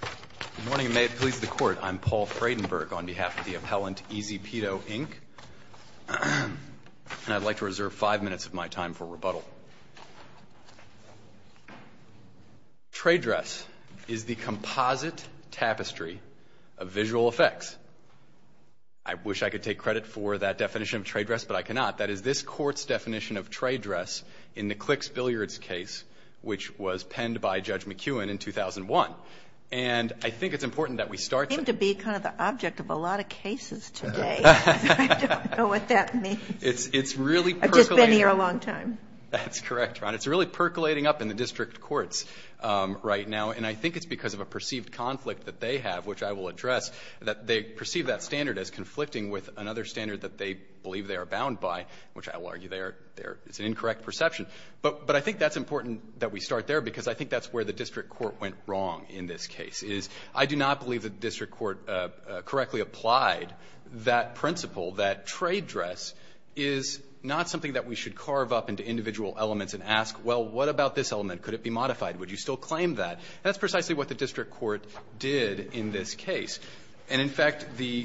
Good morning, and may it please the Court. I'm Paul Fredenberg on behalf of the appellant, EZ Pedo, Inc. And I'd like to reserve five minutes of my time for rebuttal. Trade dress is the composite tapestry of visual effects. I wish I could take credit for that definition of trade dress, but I cannot. That is this Court's definition of trade dress in the Clicks Billiards case, which was penned by Judge McEwen in 2001. And I think it's important that we start to be kind of the object of a lot of cases today. I don't know what that means. It's really percolating. I've just been here a long time. That's correct, Your Honor. It's really percolating up in the district courts right now. And I think it's because of a perceived conflict that they have, which I will address, that they perceive that standard as conflicting with another standard that they believe they are bound by, which I will argue they are an incorrect perception. But I think that's important that we start there, because I think that's where the district court went wrong in this case, is I do not believe the district court correctly applied that principle that trade dress is not something that we should carve up into individual elements and ask, well, what about this element? Could it be modified? Would you still claim that? That's precisely what the district court did in this case. And, in fact, the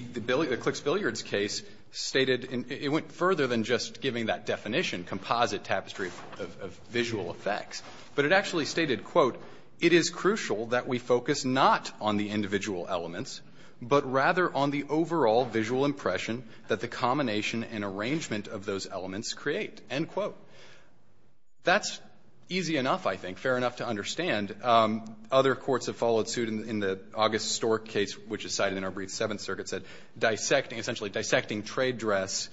Clicks Billiards case stated and it went further than just giving that definition, composite tapestry of visual effects, but it actually stated, quote, it is crucial that we focus not on the individual elements, but rather on the overall visual impression that the combination and arrangement of those elements create, end quote. That's easy enough, I think, fair enough to understand. And other courts have followed suit in the August Stork case, which is cited in our brief Seventh Circuit, said dissecting, essentially dissecting trade dress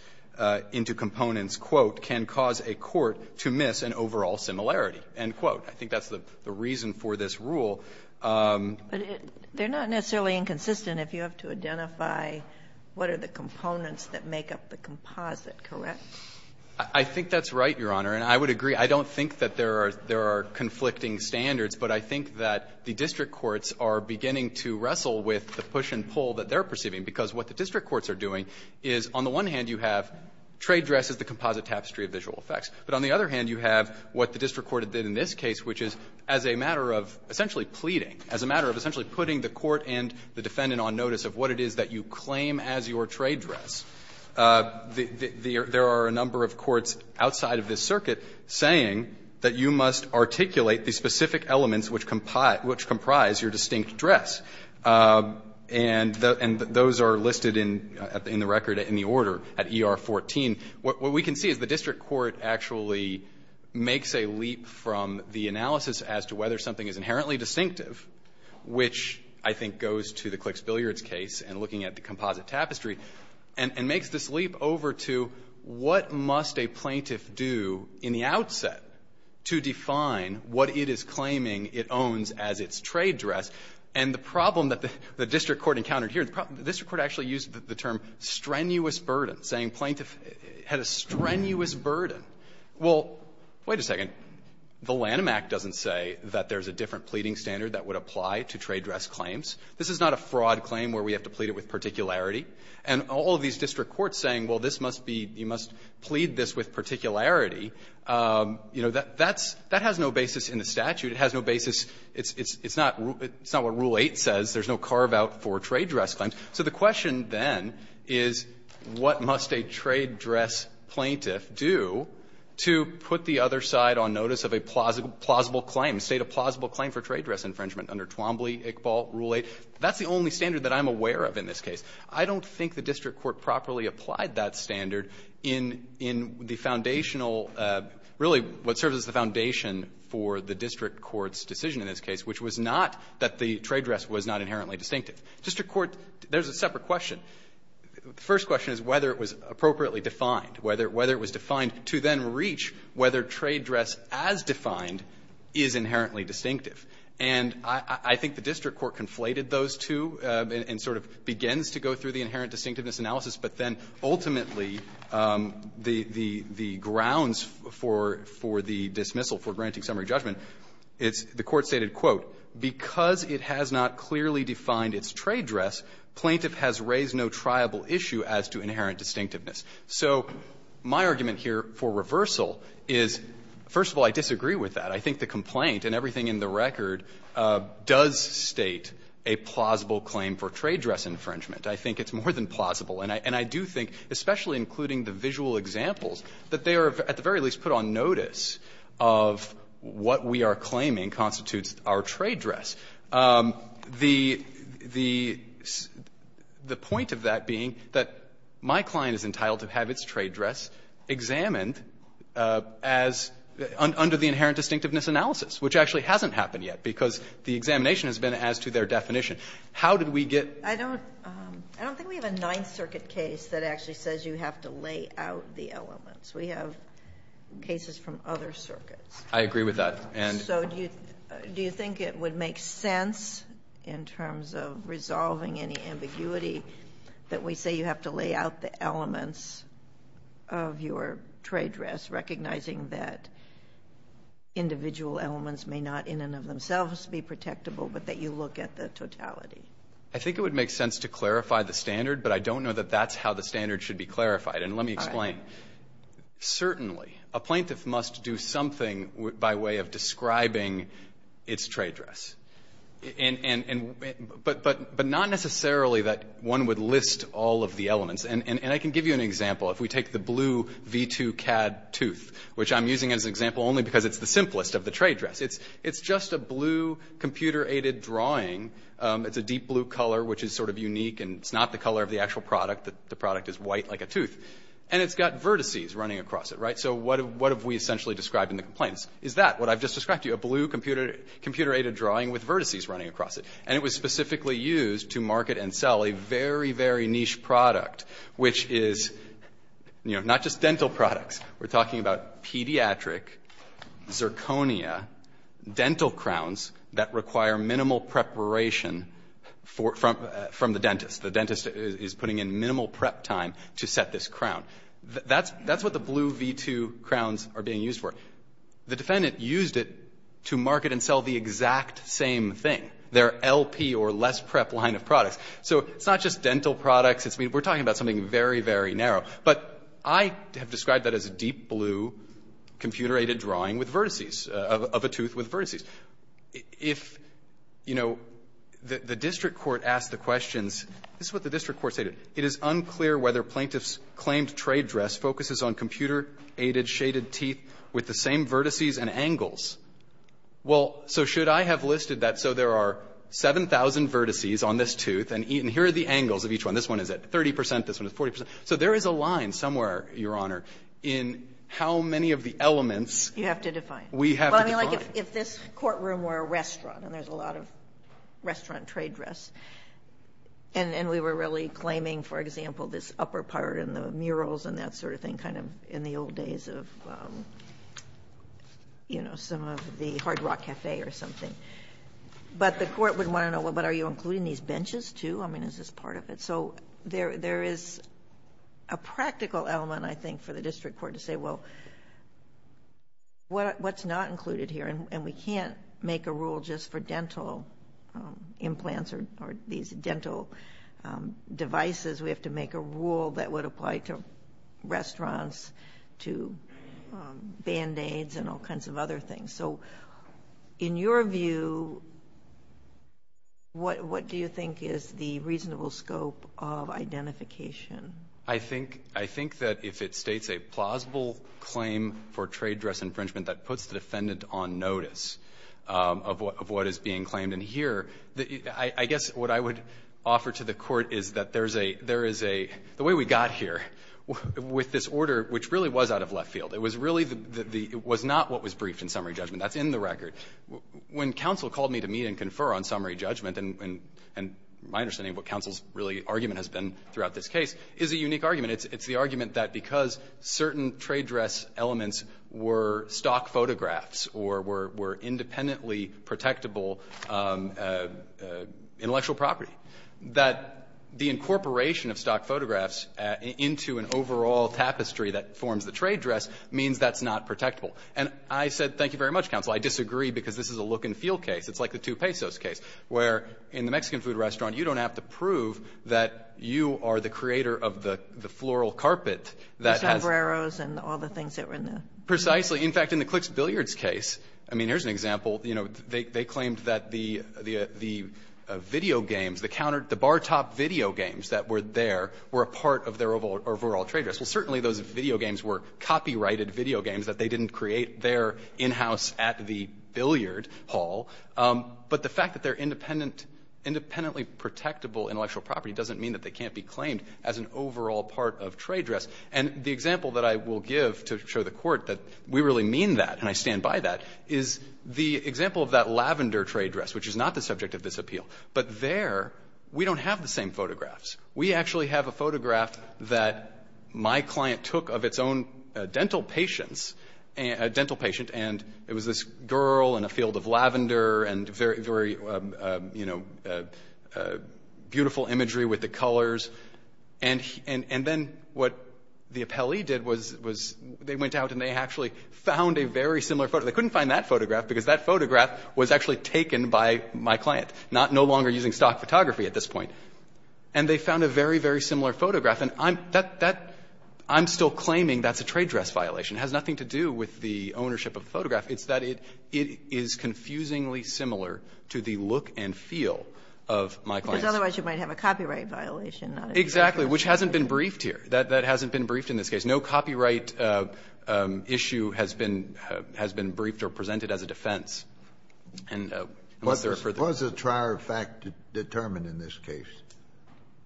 into components, quote, can cause a court to miss an overall similarity, end quote. I think that's the reason for this rule. But it they're not necessarily inconsistent if you have to identify what are the components that make up the composite, correct? I think that's right, Your Honor. And I would agree, I don't think that there are conflicting standards, but I think that the district courts are beginning to wrestle with the push and pull that they're perceiving, because what the district courts are doing is, on the one hand, you have trade dress as the composite tapestry of visual effects, but on the other hand, you have what the district court did in this case, which is as a matter of essentially pleading, as a matter of essentially putting the court and the defendant on notice of what it is that you claim as your trade dress. There are a number of courts outside of this circuit saying that you must articulate the specific elements which comprise your distinct dress. And those are listed in the record in the order at ER 14. What we can see is the district court actually makes a leap from the analysis as to whether something is inherently distinctive, which I think goes to the Clicks Billiards case and looking at the composite tapestry, and makes this leap over to what must a plaintiff do in the outset to define what it is claiming it owns as its trade dress. And the problem that the district court encountered here, the district court actually used the term strenuous burden, saying plaintiff had a strenuous burden. Well, wait a second. The Lanham Act doesn't say that there's a different pleading standard that would apply to trade dress claims. This is not a fraud claim where we have to plead it with particularity. And all of these district courts saying, well, this must be you must plead this with particularity, you know, that's that has no basis in the statute. It has no basis. It's not what Rule 8 says. There's no carve-out for trade dress claims. So the question then is what must a trade dress plaintiff do to put the other side on notice of a plausible claim, state a plausible claim for trade dress infringement under Twombly, Iqbal, Rule 8. That's the only standard that I'm aware of in this case. I don't think the district court properly applied that standard in the foundational really what serves as the foundation for the district court's decision in this case, which was not that the trade dress was not inherently distinctive. District court, there's a separate question. The first question is whether it was appropriately defined, whether it was defined to then reach whether trade dress as defined is inherently distinctive. And I think the district court conflated those two and sort of begins to go through the inherent distinctiveness analysis, but then ultimately the grounds for the dismissal for granting summary judgment, it's the court stated, quote, because it has not clearly defined its trade dress, plaintiff has raised no triable issue as to inherent distinctiveness. So my argument here for reversal is, first of all, I disagree with that. I think the complaint and everything in the record does state a plausible claim for trade dress infringement. I think it's more than plausible. And I do think, especially including the visual examples, that they are, at the very least, put on notice of what we are claiming constitutes our trade dress. The point of that being that my client is entitled to have its trade dress examined as under the inherent distinctiveness analysis, which actually hasn't happened yet, because the examination has been as to their definition. How did we get to that? I don't think we have a Ninth Circuit case that actually says you have to lay out the elements. We have cases from other circuits. I agree with that. And so do you think it would make sense in terms of resolving any ambiguity that we say you have to lay out the elements of your trade dress, recognizing that individual elements may not in and of themselves be protectable, but that you look at the totality? I think it would make sense to clarify the standard, but I don't know that that's how the standard should be clarified. And let me explain. Certainly, a plaintiff must do something by way of describing its trade dress. But not necessarily that one would list all of the elements. And I can give you an example. If we take the blue V2 CAD tooth, which I'm using as an example only because it's the simplest of the trade dress. It's just a blue computer-aided drawing. It's a deep blue color, which is sort of unique, and it's not the color of the actual product. The product is white like a tooth. And it's got vertices running across it, right? So what have we essentially described in the complaints? Is that what I've just described to you? It's a blue computer-aided drawing with vertices running across it. And it was specifically used to market and sell a very, very niche product, which is, you know, not just dental products. We're talking about pediatric zirconia dental crowns that require minimal preparation from the dentist. The dentist is putting in minimal prep time to set this crown. That's what the blue V2 crowns are being used for. The defendant used it to market and sell the exact same thing, their LP or less-prep line of products. So it's not just dental products. It's we're talking about something very, very narrow. But I have described that as a deep blue computer-aided drawing with vertices of a tooth with vertices. If, you know, the district court asked the questions, this is what the district court stated. It is unclear whether plaintiff's claimed trade dress focuses on computer-aided shaded teeth with the same vertices and angles. Well, so should I have listed that? So there are 7,000 vertices on this tooth, and here are the angles of each one. This one is at 30 percent. This one is 40 percent. So there is a line somewhere, Your Honor, in how many of the elements we have to define. Sotomayor, if this courtroom were a restaurant, and there's a lot of restaurant trade dress, and we were really claiming, for example, this upper part and the murals and that sort of thing, kind of in the old days of, you know, some of the Hard Rock Cafe or something, but the court would want to know, well, but are you including these benches, too? I mean, is this part of it? So there is a practical element, I think, for the district court to say, well, what's not included here? And we can't make a rule just for dental implants or these dental devices. We have to make a rule that would apply to restaurants, to Band-Aids and all kinds of other things. So in your view, what do you think is the reasonable scope of identification? I think that if it states a plausible claim for trade dress infringement, that puts the defendant on notice of what is being claimed. And here, I guess what I would offer to the court is that there is a, the way we got here with this order, which really was out of left field, it was really the, it was not what was briefed in summary judgment. That's in the record. When counsel called me to meet and confer on summary judgment, and my understanding of what counsel's really argument has been throughout this case, is a unique argument. It's the argument that because certain trade dress elements were stock photographs or were independently protectable intellectual property, that the incorporation of stock photographs into an overall tapestry that forms the trade dress means that's not protectable. And I said, thank you very much, counsel. I disagree because this is a look and feel case. It's like the two pesos case, where in the Mexican food restaurant, you don't have to prove that you are the creator of the floral carpet that has been. The sombreros and all the things that were in the. Precisely. In fact, in the Clicks Billiards case, I mean, here's an example. You know, they claimed that the video games, the counter, the bar top video games that were there were a part of their overall trade dress. Well, certainly those video games were copyrighted video games, that they didn't create there in-house at the billiard hall. But the fact that they're independent, independently protectable intellectual property doesn't mean that they can't be claimed as an overall part of trade dress. And the example that I will give to show the Court that we really mean that and I stand by that is the example of that lavender trade dress, which is not the subject of this appeal. But there, we don't have the same photographs. We actually have a photograph that my client took of its own dental patients, a dental patient, and it was this girl in a field of lavender and very, very, you know, beautiful imagery with the colors. And then what the appellee did was they went out and they actually found a very similar photograph. They couldn't find that photograph because that photograph was actually taken by my client, no longer using stock photography at this point. And they found a very, very similar photograph. And I'm still claiming that's a trade dress violation. It has nothing to do with the ownership of the photograph. It's that it is confusingly similar to the look and feel of my client's. Otherwise, you might have a copyright violation. Exactly, which hasn't been briefed here. That hasn't been briefed in this case. No copyright issue has been briefed or presented as a defense. And unless there are further issues. Kennedy, what does the trier of fact determine in this case?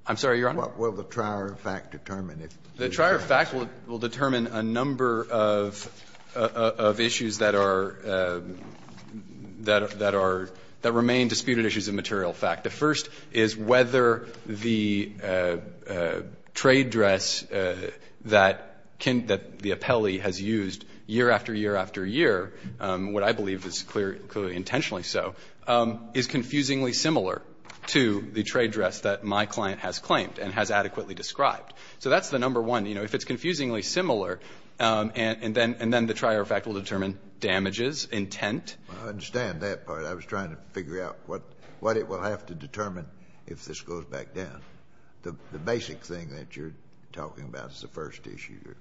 I'm sorry, Your Honor? What will the trier of fact determine? The trier of fact will determine a number of issues that are, that are, that remain disputed issues of material fact. The first is whether the trade dress that Ken, that the appellee has used year after year after year, what I believe is clearly intentionally so, is confusingly similar to the trade dress that my client has claimed and has adequately described. So that's the number one. You know, if it's confusingly similar, and then the trier of fact will determine damages, intent. I understand that part. I was trying to figure out what it will have to determine if this goes back down. The basic thing that you're talking about is the first issue here.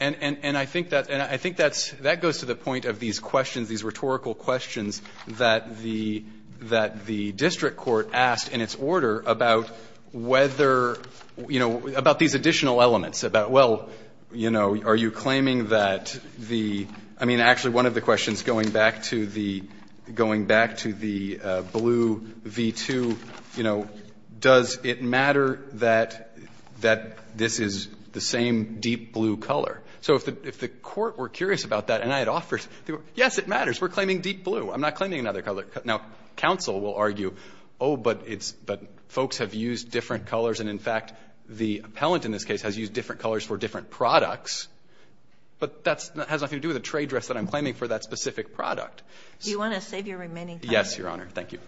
And I think that's goes to the point of these questions, these rhetorical questions that the district court asked in its order about whether, you know, about these additional elements, about, well, you know, are you claiming that the, I mean, actually one of the questions going back to the, going back to the blue V-2, you know, does it matter that, that this is the same deep blue color? So if the, if the court were curious about that and I had offered, yes, it matters. We're claiming deep blue. I'm not claiming another color. Now, counsel will argue, oh, but it's, but folks have used different colors, and in fact, the appellant in this case has used different colors for different products. But that's, that has nothing to do with the trade dress that I'm claiming for that specific product. So do you want to save your remaining time? Yes, Your Honor. Thank you.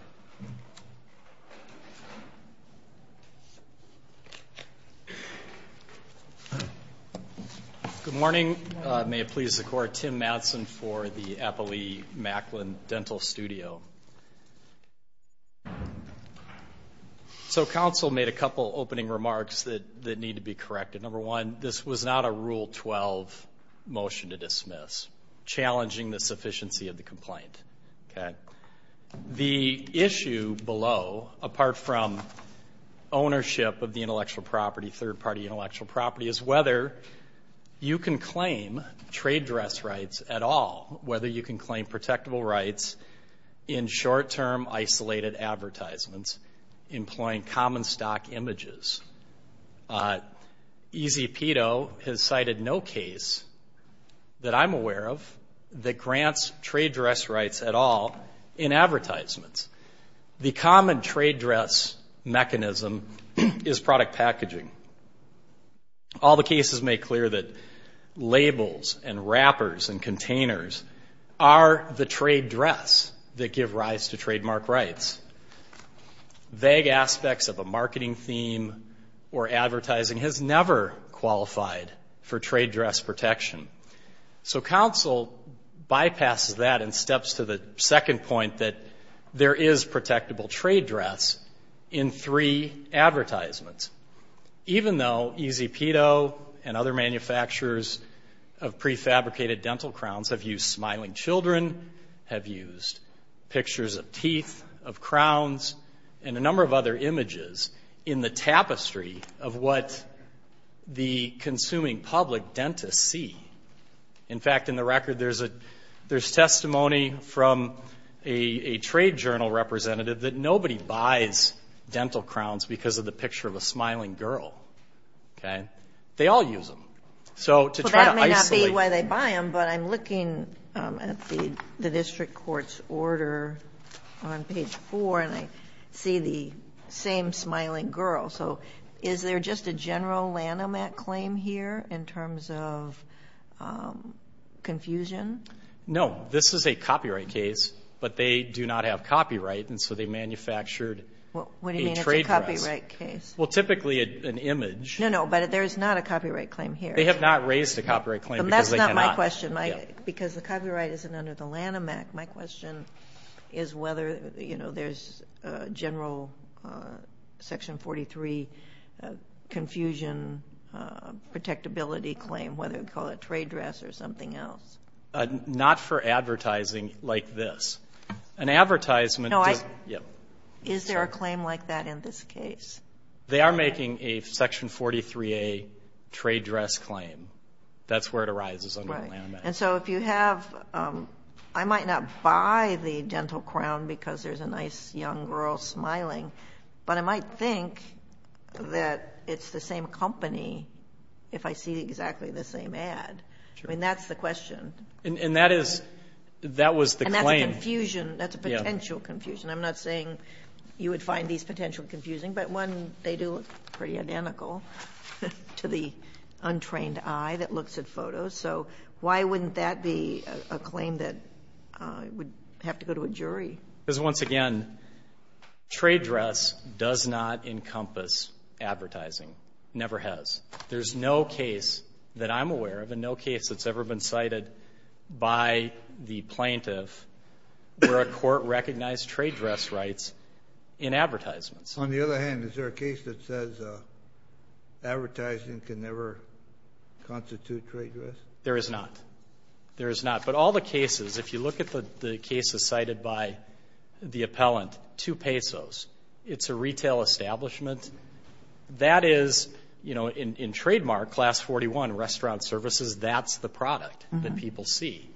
Good morning. May it please the Court. Tim Madsen for the Applee-Macklin Dental Studio. So counsel made a couple opening remarks that, that need to be corrected. Number one, this was not a Rule 12 motion to dismiss, challenging the sufficiency of the complaint. Okay. The issue below, apart from ownership of the intellectual property, third-party intellectual property, is whether you can claim trade dress rights at all, whether you can claim protectable rights in short-term isolated advertisements employing common stock images. E.Z. Pito has cited no case that I'm aware of that grants trade dress rights at all in advertisements. The common trade dress mechanism is product packaging. All the cases make clear that labels and wrappers and containers are the trade dress that give rise to trademark rights. Vague aspects of a marketing theme or advertising has never qualified for trade dress protection. So counsel bypasses that and steps to the second point that there is protectable trade dress in three advertisements. Even though E.Z. Pito and other manufacturers of prefabricated dental crowns have used smiling children, have used pictures of teeth, of crowns, and a number of other images in the tapestry of what the consuming public dentists see. In fact, in the record, there's a ‑‑ there's testimony from a trade journal representative that nobody buys dental crowns because of the picture of a smiling girl. Okay? They all use them. So to try to isolate ‑‑ The district court's order on page four, and I see the same smiling girl. So is there just a general Lanham Act claim here in terms of confusion? No. This is a copyright case, but they do not have copyright, and so they manufactured a trade dress. What do you mean it's a copyright case? Well, typically an image. No, no. But there's not a copyright claim here. They have not raised a copyright claim because they cannot. My question, because the copyright isn't under the Lanham Act, my question is whether, you know, there's a general section 43 confusion protectability claim, whether you call it trade dress or something else. Not for advertising like this. An advertisement does ‑‑ No, I ‑‑ Yes. Is there a claim like that in this case? They are making a section 43A trade dress claim. That's where it arises under the Lanham Act. And so if you have ‑‑ I might not buy the dental crown because there's a nice young girl smiling, but I might think that it's the same company if I see exactly the same ad. Sure. I mean, that's the question. And that is ‑‑ That was the claim. And that's a confusion. That's a potential confusion. I'm not saying you would find these potential confusing, but one, they do look pretty identical to the untrained eye that looks at photos. So why wouldn't that be a claim that would have to go to a jury? Because once again, trade dress does not encompass advertising. Never has. There's no case that I'm aware of and no case that's ever been cited by the plaintiff where a court recognized trade dress rights in advertisements. On the other hand, is there a case that says advertising can never constitute trade dress? There is not. There is not. But all the cases, if you look at the cases cited by the appellant, two pesos, it's a retail establishment. That is, you know, in trademark, Class 41, restaurant services, that's the product that people see.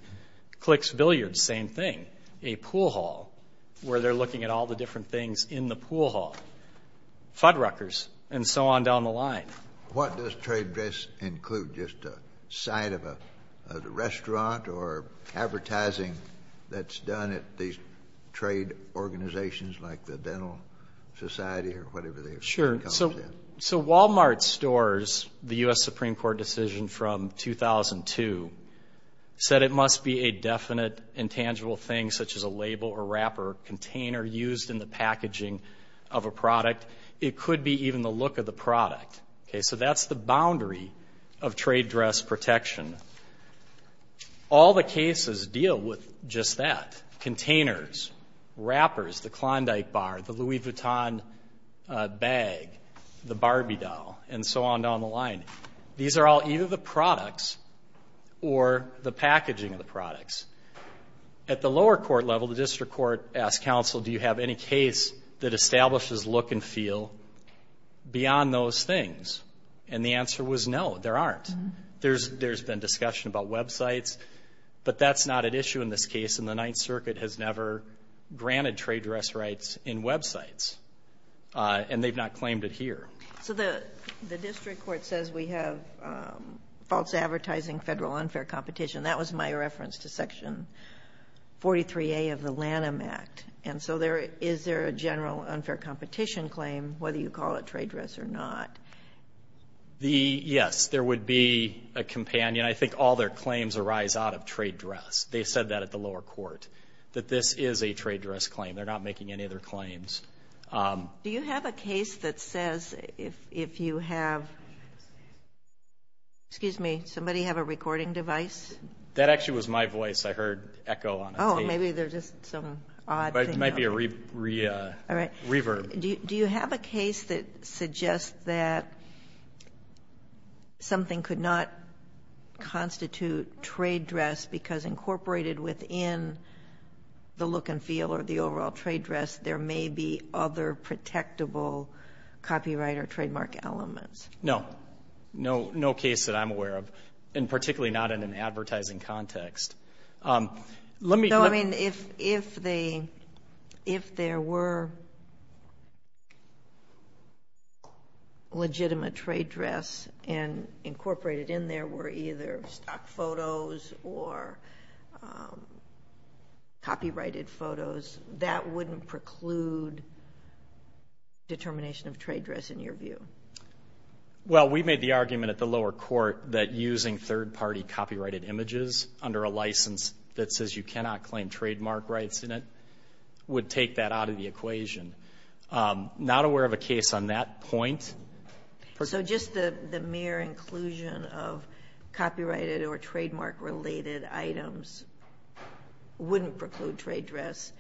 Clicks, billiards, same thing. A pool hall where they're looking at all the different things in the pool hall, Fuddruckers, and so on down the line. What does trade dress include? Just a site of a restaurant or advertising that's done at these trade organizations like the Dental Society or whatever they've come up with? Sure. So Walmart stores, the U.S. Supreme Court decision from 2002, said it must be a definite intangible thing such as a label or wrap or container used in the packaging of a product. It could be even the look of the product. Okay? So that's the boundary of trade dress protection. All the cases deal with just that. Containers, wrappers, the Klondike bar, the Louis Vuitton bag, the Barbie doll, and so on down the line. These are all either the products or the packaging of the products. At the lower court level, the district court asked counsel, do you have any case that establishes look and feel beyond those things? And the answer was no, there aren't. There's been discussion about websites. But that's not an issue in this case, and the Ninth Circuit has never granted trade dress rights in websites. And they've not claimed it here. So the district court says we have false advertising, federal unfair competition. That was my reference to Section 43A of the Lanham Act. And so is there a general unfair competition claim, whether you call it trade dress or not? Yes. There would be a companion. I think all their claims arise out of trade dress. They said that at the lower court, that this is a trade dress claim. They're not making any other claims. Do you have a case that says if you have, excuse me, somebody have a recording device? That actually was my voice. I heard echo on the tape. Oh, maybe there's just some odd thing going on. It might be a reverb. Do you have a case that suggests that something could not constitute trade dress because incorporated within the look and feel or the overall trade dress, there may be other protectable copyright or trademark elements? No. No case that I'm aware of, and particularly not in an advertising context. Let me go. I mean, if they, if there were legitimate trade dress and incorporated in there were either stock photos or copyrighted photos, that wouldn't preclude determination of trade dress in your view? Well, we made the argument at the lower court that using third-party copyrighted images under a license that says you cannot claim trademark rights in it would take that out of the equation. Not aware of a case on that point. So just the mere inclusion of copyrighted or trademark-related items wouldn't preclude trade dress.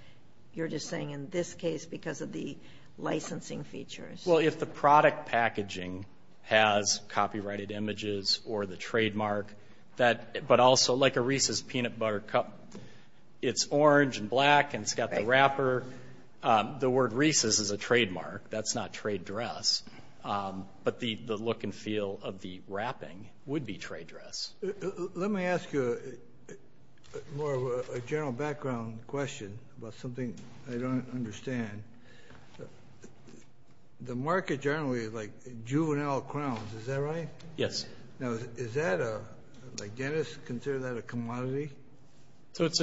You're just saying in this case because of the licensing features. Well, if the product packaging has copyrighted images or the trademark, that, but also like a Reese's peanut butter cup, it's orange and black and it's got the wrapper. The word Reese's is a trademark. That's not trade dress. But the look and feel of the wrapping would be trade dress. Let me ask you more of a general background question about something I don't understand. The market generally is like juvenile crowns, is that right? Yes. Now, is that a, like dentists consider that a commodity? So it's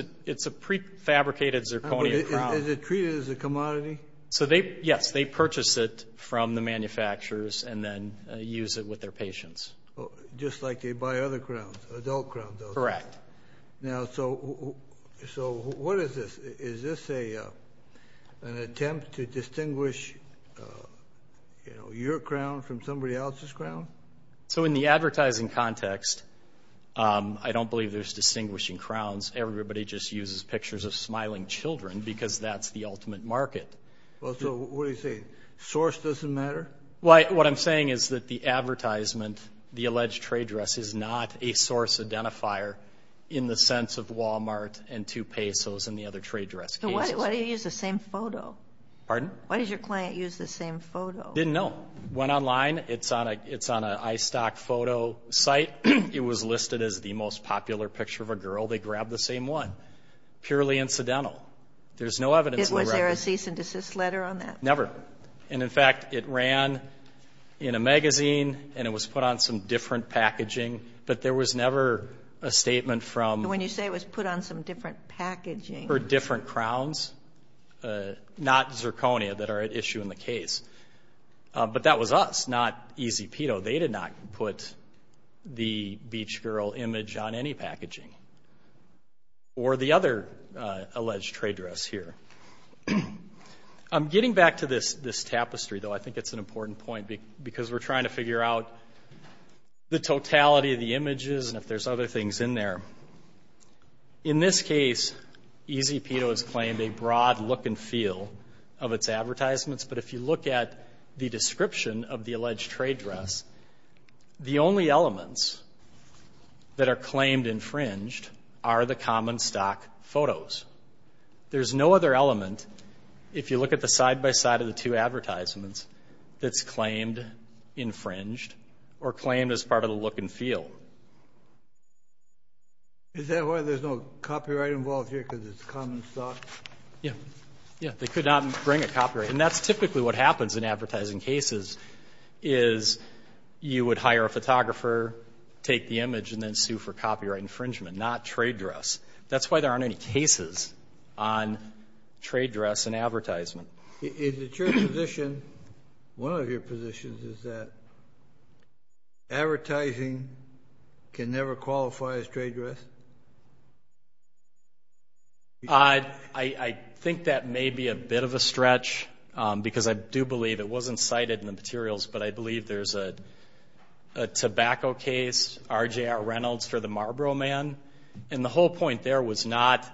a prefabricated zirconia crown. Is it treated as a commodity? So they, yes, they purchase it from the manufacturers and then use it with their patients. Just like they buy other crowns, adult crowns. Correct. Now, so what is this? Is this an attempt to distinguish, you know, your crown from somebody else's crown? So in the advertising context, I don't believe there's distinguishing crowns. Everybody just uses pictures of smiling children because that's the ultimate market. Well, so what are you saying? Source doesn't matter? Well, what I'm saying is that the advertisement, the alleged trade dress is not a source identifier in the sense of Walmart and two pesos and the other trade dress cases. So why do you use the same photo? Pardon? Why does your client use the same photo? Didn't know. Went online, it's on a iStock photo site. It was listed as the most popular picture of a girl. They grabbed the same one, purely incidental. There's no evidence. Was there a cease and desist letter on that? Never. And in fact, it ran in a magazine and it was put on some different packaging. But there was never a statement from. When you say it was put on some different packaging. Or different crowns. Not zirconia that are at issue in the case. But that was us, not Easy Pito. They did not put the beach girl image on any packaging. Or the other alleged trade dress here. I'm getting back to this tapestry, though. I think it's an important point. Because we're trying to figure out the totality of the images and if there's other things in there. In this case, Easy Pito has claimed a broad look and feel of its advertisements. But if you look at the description of the alleged trade dress, the only elements that are claimed infringed are the common stock photos. There's no other element, if you look at the side-by-side of the two advertisements, that's claimed infringed. Or claimed as part of the look and feel. Is that why there's no copyright involved here, because it's common stock? Yeah. Yeah. They could not bring a copyright. And that's typically what happens in advertising cases, is you would hire a photographer, take the image, and then sue for copyright infringement. Not trade dress. That's why there aren't any cases on trade dress in advertisement. Is it your position, one of your positions, is that advertising can never qualify as trade dress? I think that may be a bit of a stretch, because I do believe, it wasn't cited in the materials, but I believe there's a tobacco case, RJR Reynolds for the Marlboro Man, and the whole point there was not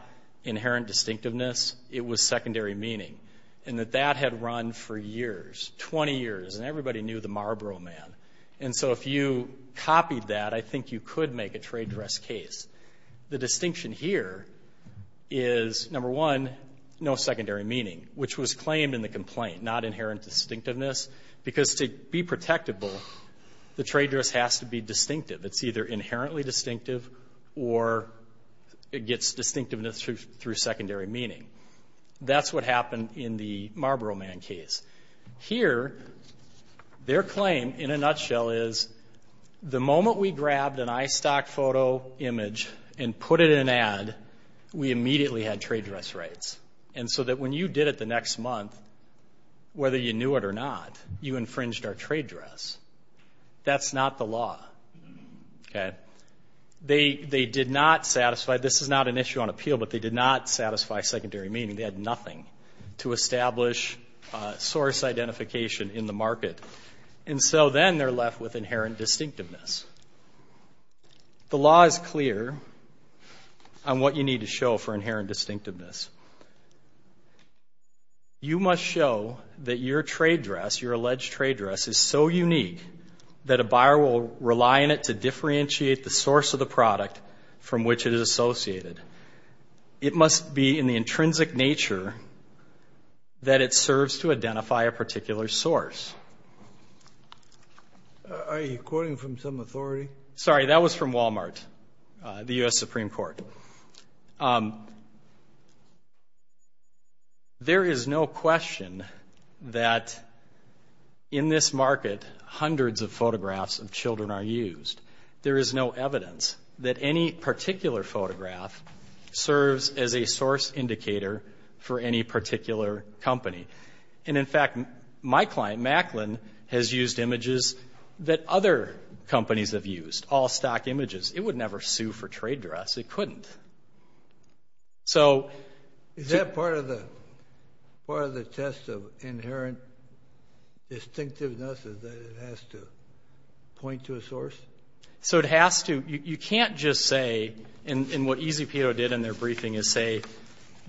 inherent distinctiveness, it was secondary meaning. And that that had run for years, 20 years, and everybody knew the Marlboro Man. And so if you copied that, I think you could make a trade dress case. The distinction here is, number one, no secondary meaning, which was claimed in the complaint. Not inherent distinctiveness. Because to be protectable, the trade dress has to be distinctive. It's either inherently distinctive, or it gets distinctiveness through secondary meaning. That's what happened in the Marlboro Man case. Here, their claim, in a nutshell, is the moment we grabbed an iStock photo image and put it in an ad, we immediately had trade dress rights. And so that when you did it the next month, whether you knew it or not, you infringed our trade dress. That's not the law. They did not satisfy, this is not an issue on appeal, but they did not satisfy secondary meaning. They had nothing to establish source identification in the market. And so then they're left with inherent distinctiveness. The law is clear on what you need to show for inherent distinctiveness. You must show that your trade dress, your alleged trade dress, is so unique that a buyer will rely on it to differentiate the source of the product from which it is associated. It must be in the intrinsic nature that it serves to identify a particular source. Are you quoting from some authority? Sorry, that was from Walmart, the U.S. Supreme Court. There is no question that in this market, hundreds of photographs of children are used. There is no evidence that any particular photograph serves as a source indicator for any particular company. And in fact, my client, Macklin, has used images that other companies have used, all-stock images. It would never sue for trade dress. It couldn't. Is that part of the test of inherent distinctiveness is that it has to point to a source? So it has to. You can't just say, and what EZPIO did in their briefing is say,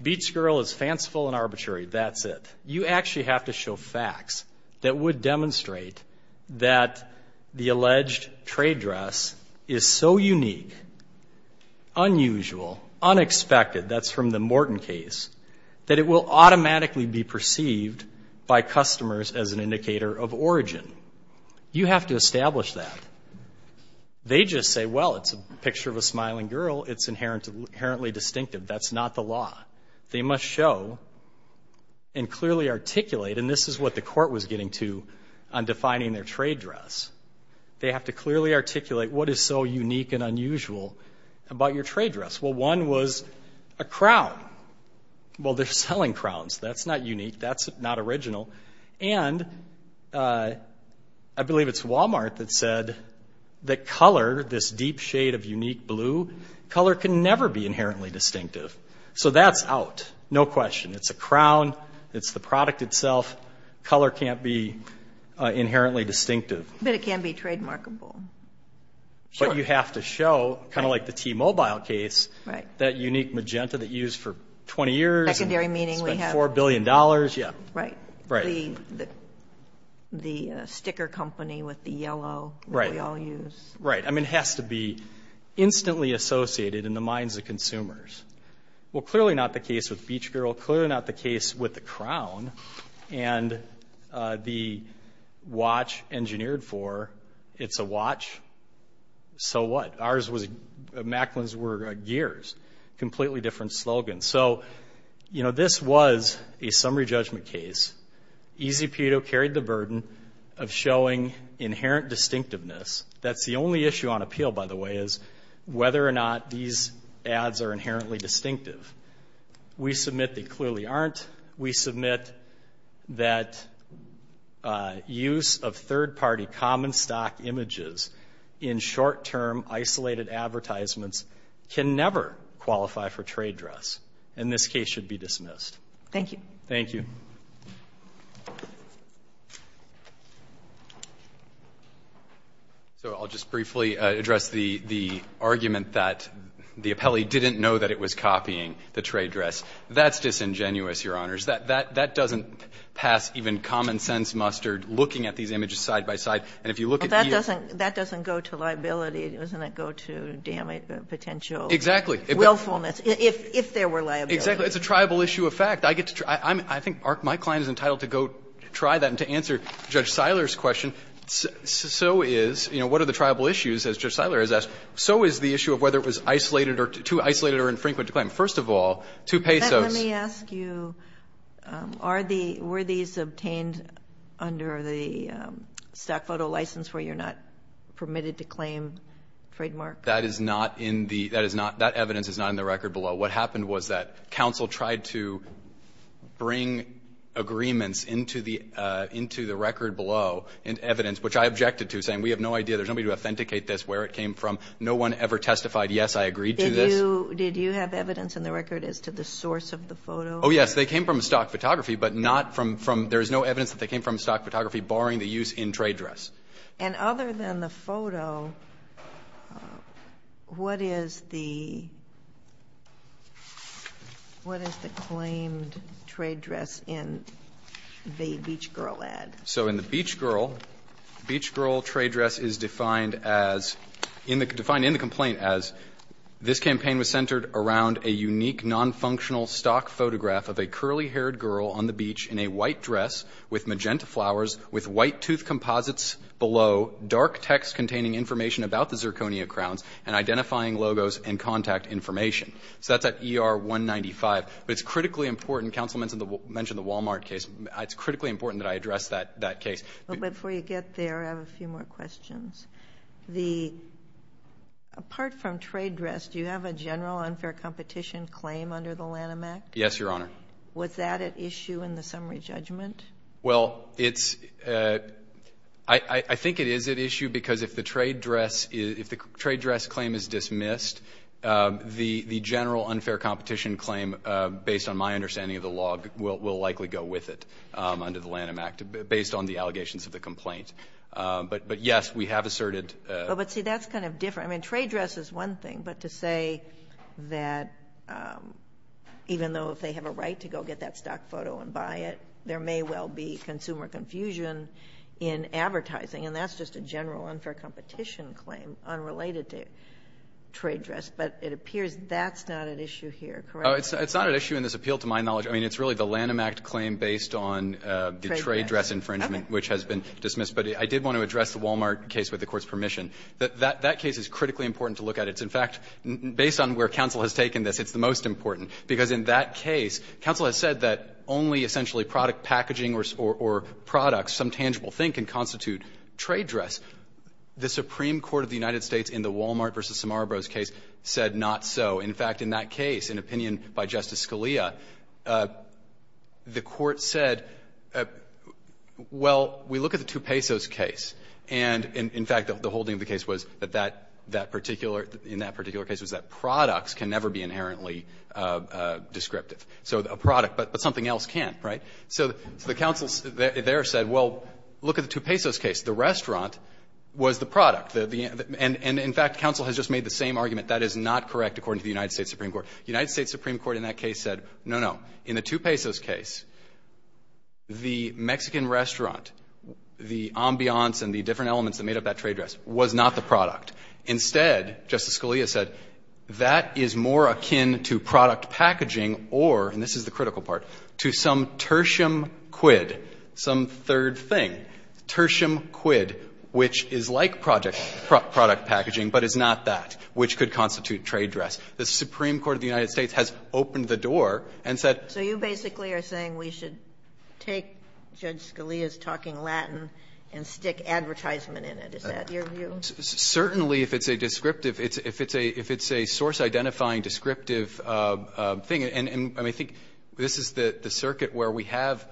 beach girl is fanciful and arbitrary. That's it. You actually have to show facts that would demonstrate that the alleged trade dress is so unique, unusual, unexpected, that's from the Morton case, that it will automatically be perceived by customers as an indicator of origin. You have to establish that. They just say, well, it's a picture of a smiling girl. It's inherently distinctive. That's not the law. They must show and clearly articulate, and this is what the court was getting to on defining their trade dress. They have to clearly articulate what is so unique and unusual about your trade dress. Well, one was a crown. Well, they're selling crowns. That's not unique. That's not original. And I believe it's Wal-Mart that said that color, this deep shade of unique blue, color can never be inherently distinctive. So that's out. No question. It's a crown. It's the product itself. Color can't be inherently distinctive. But it can be trademarkable. Sure. But you have to show, kind of like the T-Mobile case, that unique magenta that you used for 20 years. Secondary meaning we have. Spent $4 billion. Yeah. Right. Right. The sticker company with the yellow. Right. That we all use. Right. I mean, it has to be instantly associated in the minds of consumers. Well, clearly not the case with Beach Girl. Clearly not the case with the crown. And the watch engineered for, it's a watch. So what? Ours was, Macklin's were gears. Completely different slogans. So, you know, this was a summary judgment case. Easy Pedo carried the burden of showing inherent distinctiveness. That's the only issue on appeal, by the way, is whether or not these ads are inherently distinctive. We submit they clearly aren't. We submit that use of third-party common stock images in short-term isolated advertisements can never qualify for trade dress. And this case should be dismissed. Thank you. Thank you. So I'll just briefly address the argument that the appellee didn't know that it was copying the trade dress. That's disingenuous, Your Honors. That doesn't pass even common sense mustard, looking at these images side by side. And if you look at these. That doesn't go to liability. It doesn't go to potential willfulness. Exactly. If there were liability. Exactly. It's a triable issue of fact. I think my client is entitled to go try that and to answer Judge Seiler's question. So is, you know, what are the triable issues, as Judge Seiler has asked? So is the issue of whether it was isolated or too isolated or infrequent to claim. First of all, two pesos. Let me ask you, were these obtained under the stock photo license where you're not permitted to claim trademark? That is not in the – that evidence is not in the record below. What happened was that counsel tried to bring agreements into the record below in evidence, which I objected to, saying we have no idea. There's nobody to authenticate this, where it came from. No one ever testified, yes, I agreed to this. Did you have evidence in the record as to the source of the photo? Oh, yes. They came from stock photography, but not from – there is no evidence that they came from stock photography barring the use in trade dress. And other than the photo, what is the – what is the claimed trade dress in the Beach Girl ad? So in the Beach Girl, Beach Girl trade dress is defined as – defined in the complaint as this campaign was centered around a unique nonfunctional stock photograph of a curly-haired girl on the beach in a white dress with magenta flowers with white tooth composites below, dark text containing information about the zirconia crowns, and identifying logos and contact information. So that's at ER 195. But it's critically important – counsel mentioned the Wal-Mart case. It's critically important that I address that case. But before you get there, I have a few more questions. The – apart from trade dress, do you have a general unfair competition claim under the Lanham Act? Yes, Your Honor. Was that at issue in the summary judgment? Well, it's – I think it is at issue because if the trade dress – if the trade dress claim is dismissed, the general unfair competition claim, based on my understanding of the law, will likely go with it under the Lanham Act, based on the allegations of the complaint. But, yes, we have asserted – But, see, that's kind of different. I mean, trade dress is one thing. But to say that even though if they have a right to go get that stock photo and buy it, there may well be consumer confusion in advertising, and that's just a general unfair competition claim unrelated to trade dress, but it appears that's not at issue here, correct? It's not at issue in this appeal, to my knowledge. I mean, it's really the Lanham Act claim based on the trade dress infringement, which has been dismissed. But I did want to address the Wal-Mart case with the Court's permission. That case is critically important to look at. It's, in fact, based on where counsel has taken this, it's the most important, because in that case, counsel has said that only essentially product packaging or products, some tangible thing, can constitute trade dress. The Supreme Court of the United States in the Wal-Mart v. Samarabro's case said not so. In fact, in that case, an opinion by Justice Scalia, the Court said, well, we look at the Tupesos case, and, in fact, the holding of the case was that that particular in that particular case was that products can never be inherently descriptive. So a product, but something else can't, right? So the counsel there said, well, look at the Tupesos case. The restaurant was the product. And, in fact, counsel has just made the same argument. That is not correct according to the United States Supreme Court. The United States Supreme Court in that case said, no, no. In the Tupesos case, the Mexican restaurant, the ambiance and the different elements that made up that trade dress was not the product. Instead, Justice Scalia said, that is more akin to product packaging or, and this is the critical part, to some tertium quid, some third thing, tertium quid, which is like product packaging, but is not that, which could constitute trade dress. The Supreme Court of the United States has opened the door and said that. Sotomayor So you basically are saying we should take Judge Scalia's talking Latin and stick advertisement in it. Is that your view? Certainly, if it's a descriptive, if it's a, if it's a source-identifying descriptive thing, and I think this is the circuit where we have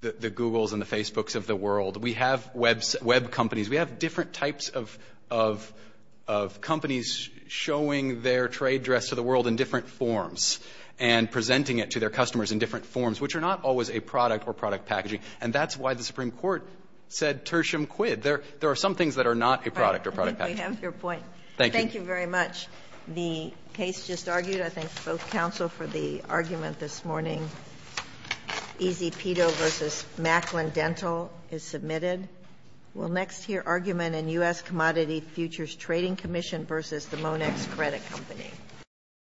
the Googles and the Facebooks of the world. We have Web, Web companies. We have different types of, of, of companies showing their trade dress to the world in different forms and presenting it to their customers in different forms, which are not always a product or product packaging. And that's why the Supreme Court said tertium quid. There are some things that are not a product or product packaging. Thank you. Thank you very much. The case just argued. I thank both counsel for the argument this morning. Ezpito v. Macklin Dental is submitted. We'll next hear argument in U.S. Commodity Futures Trading Commission v. the Monex Credit Company.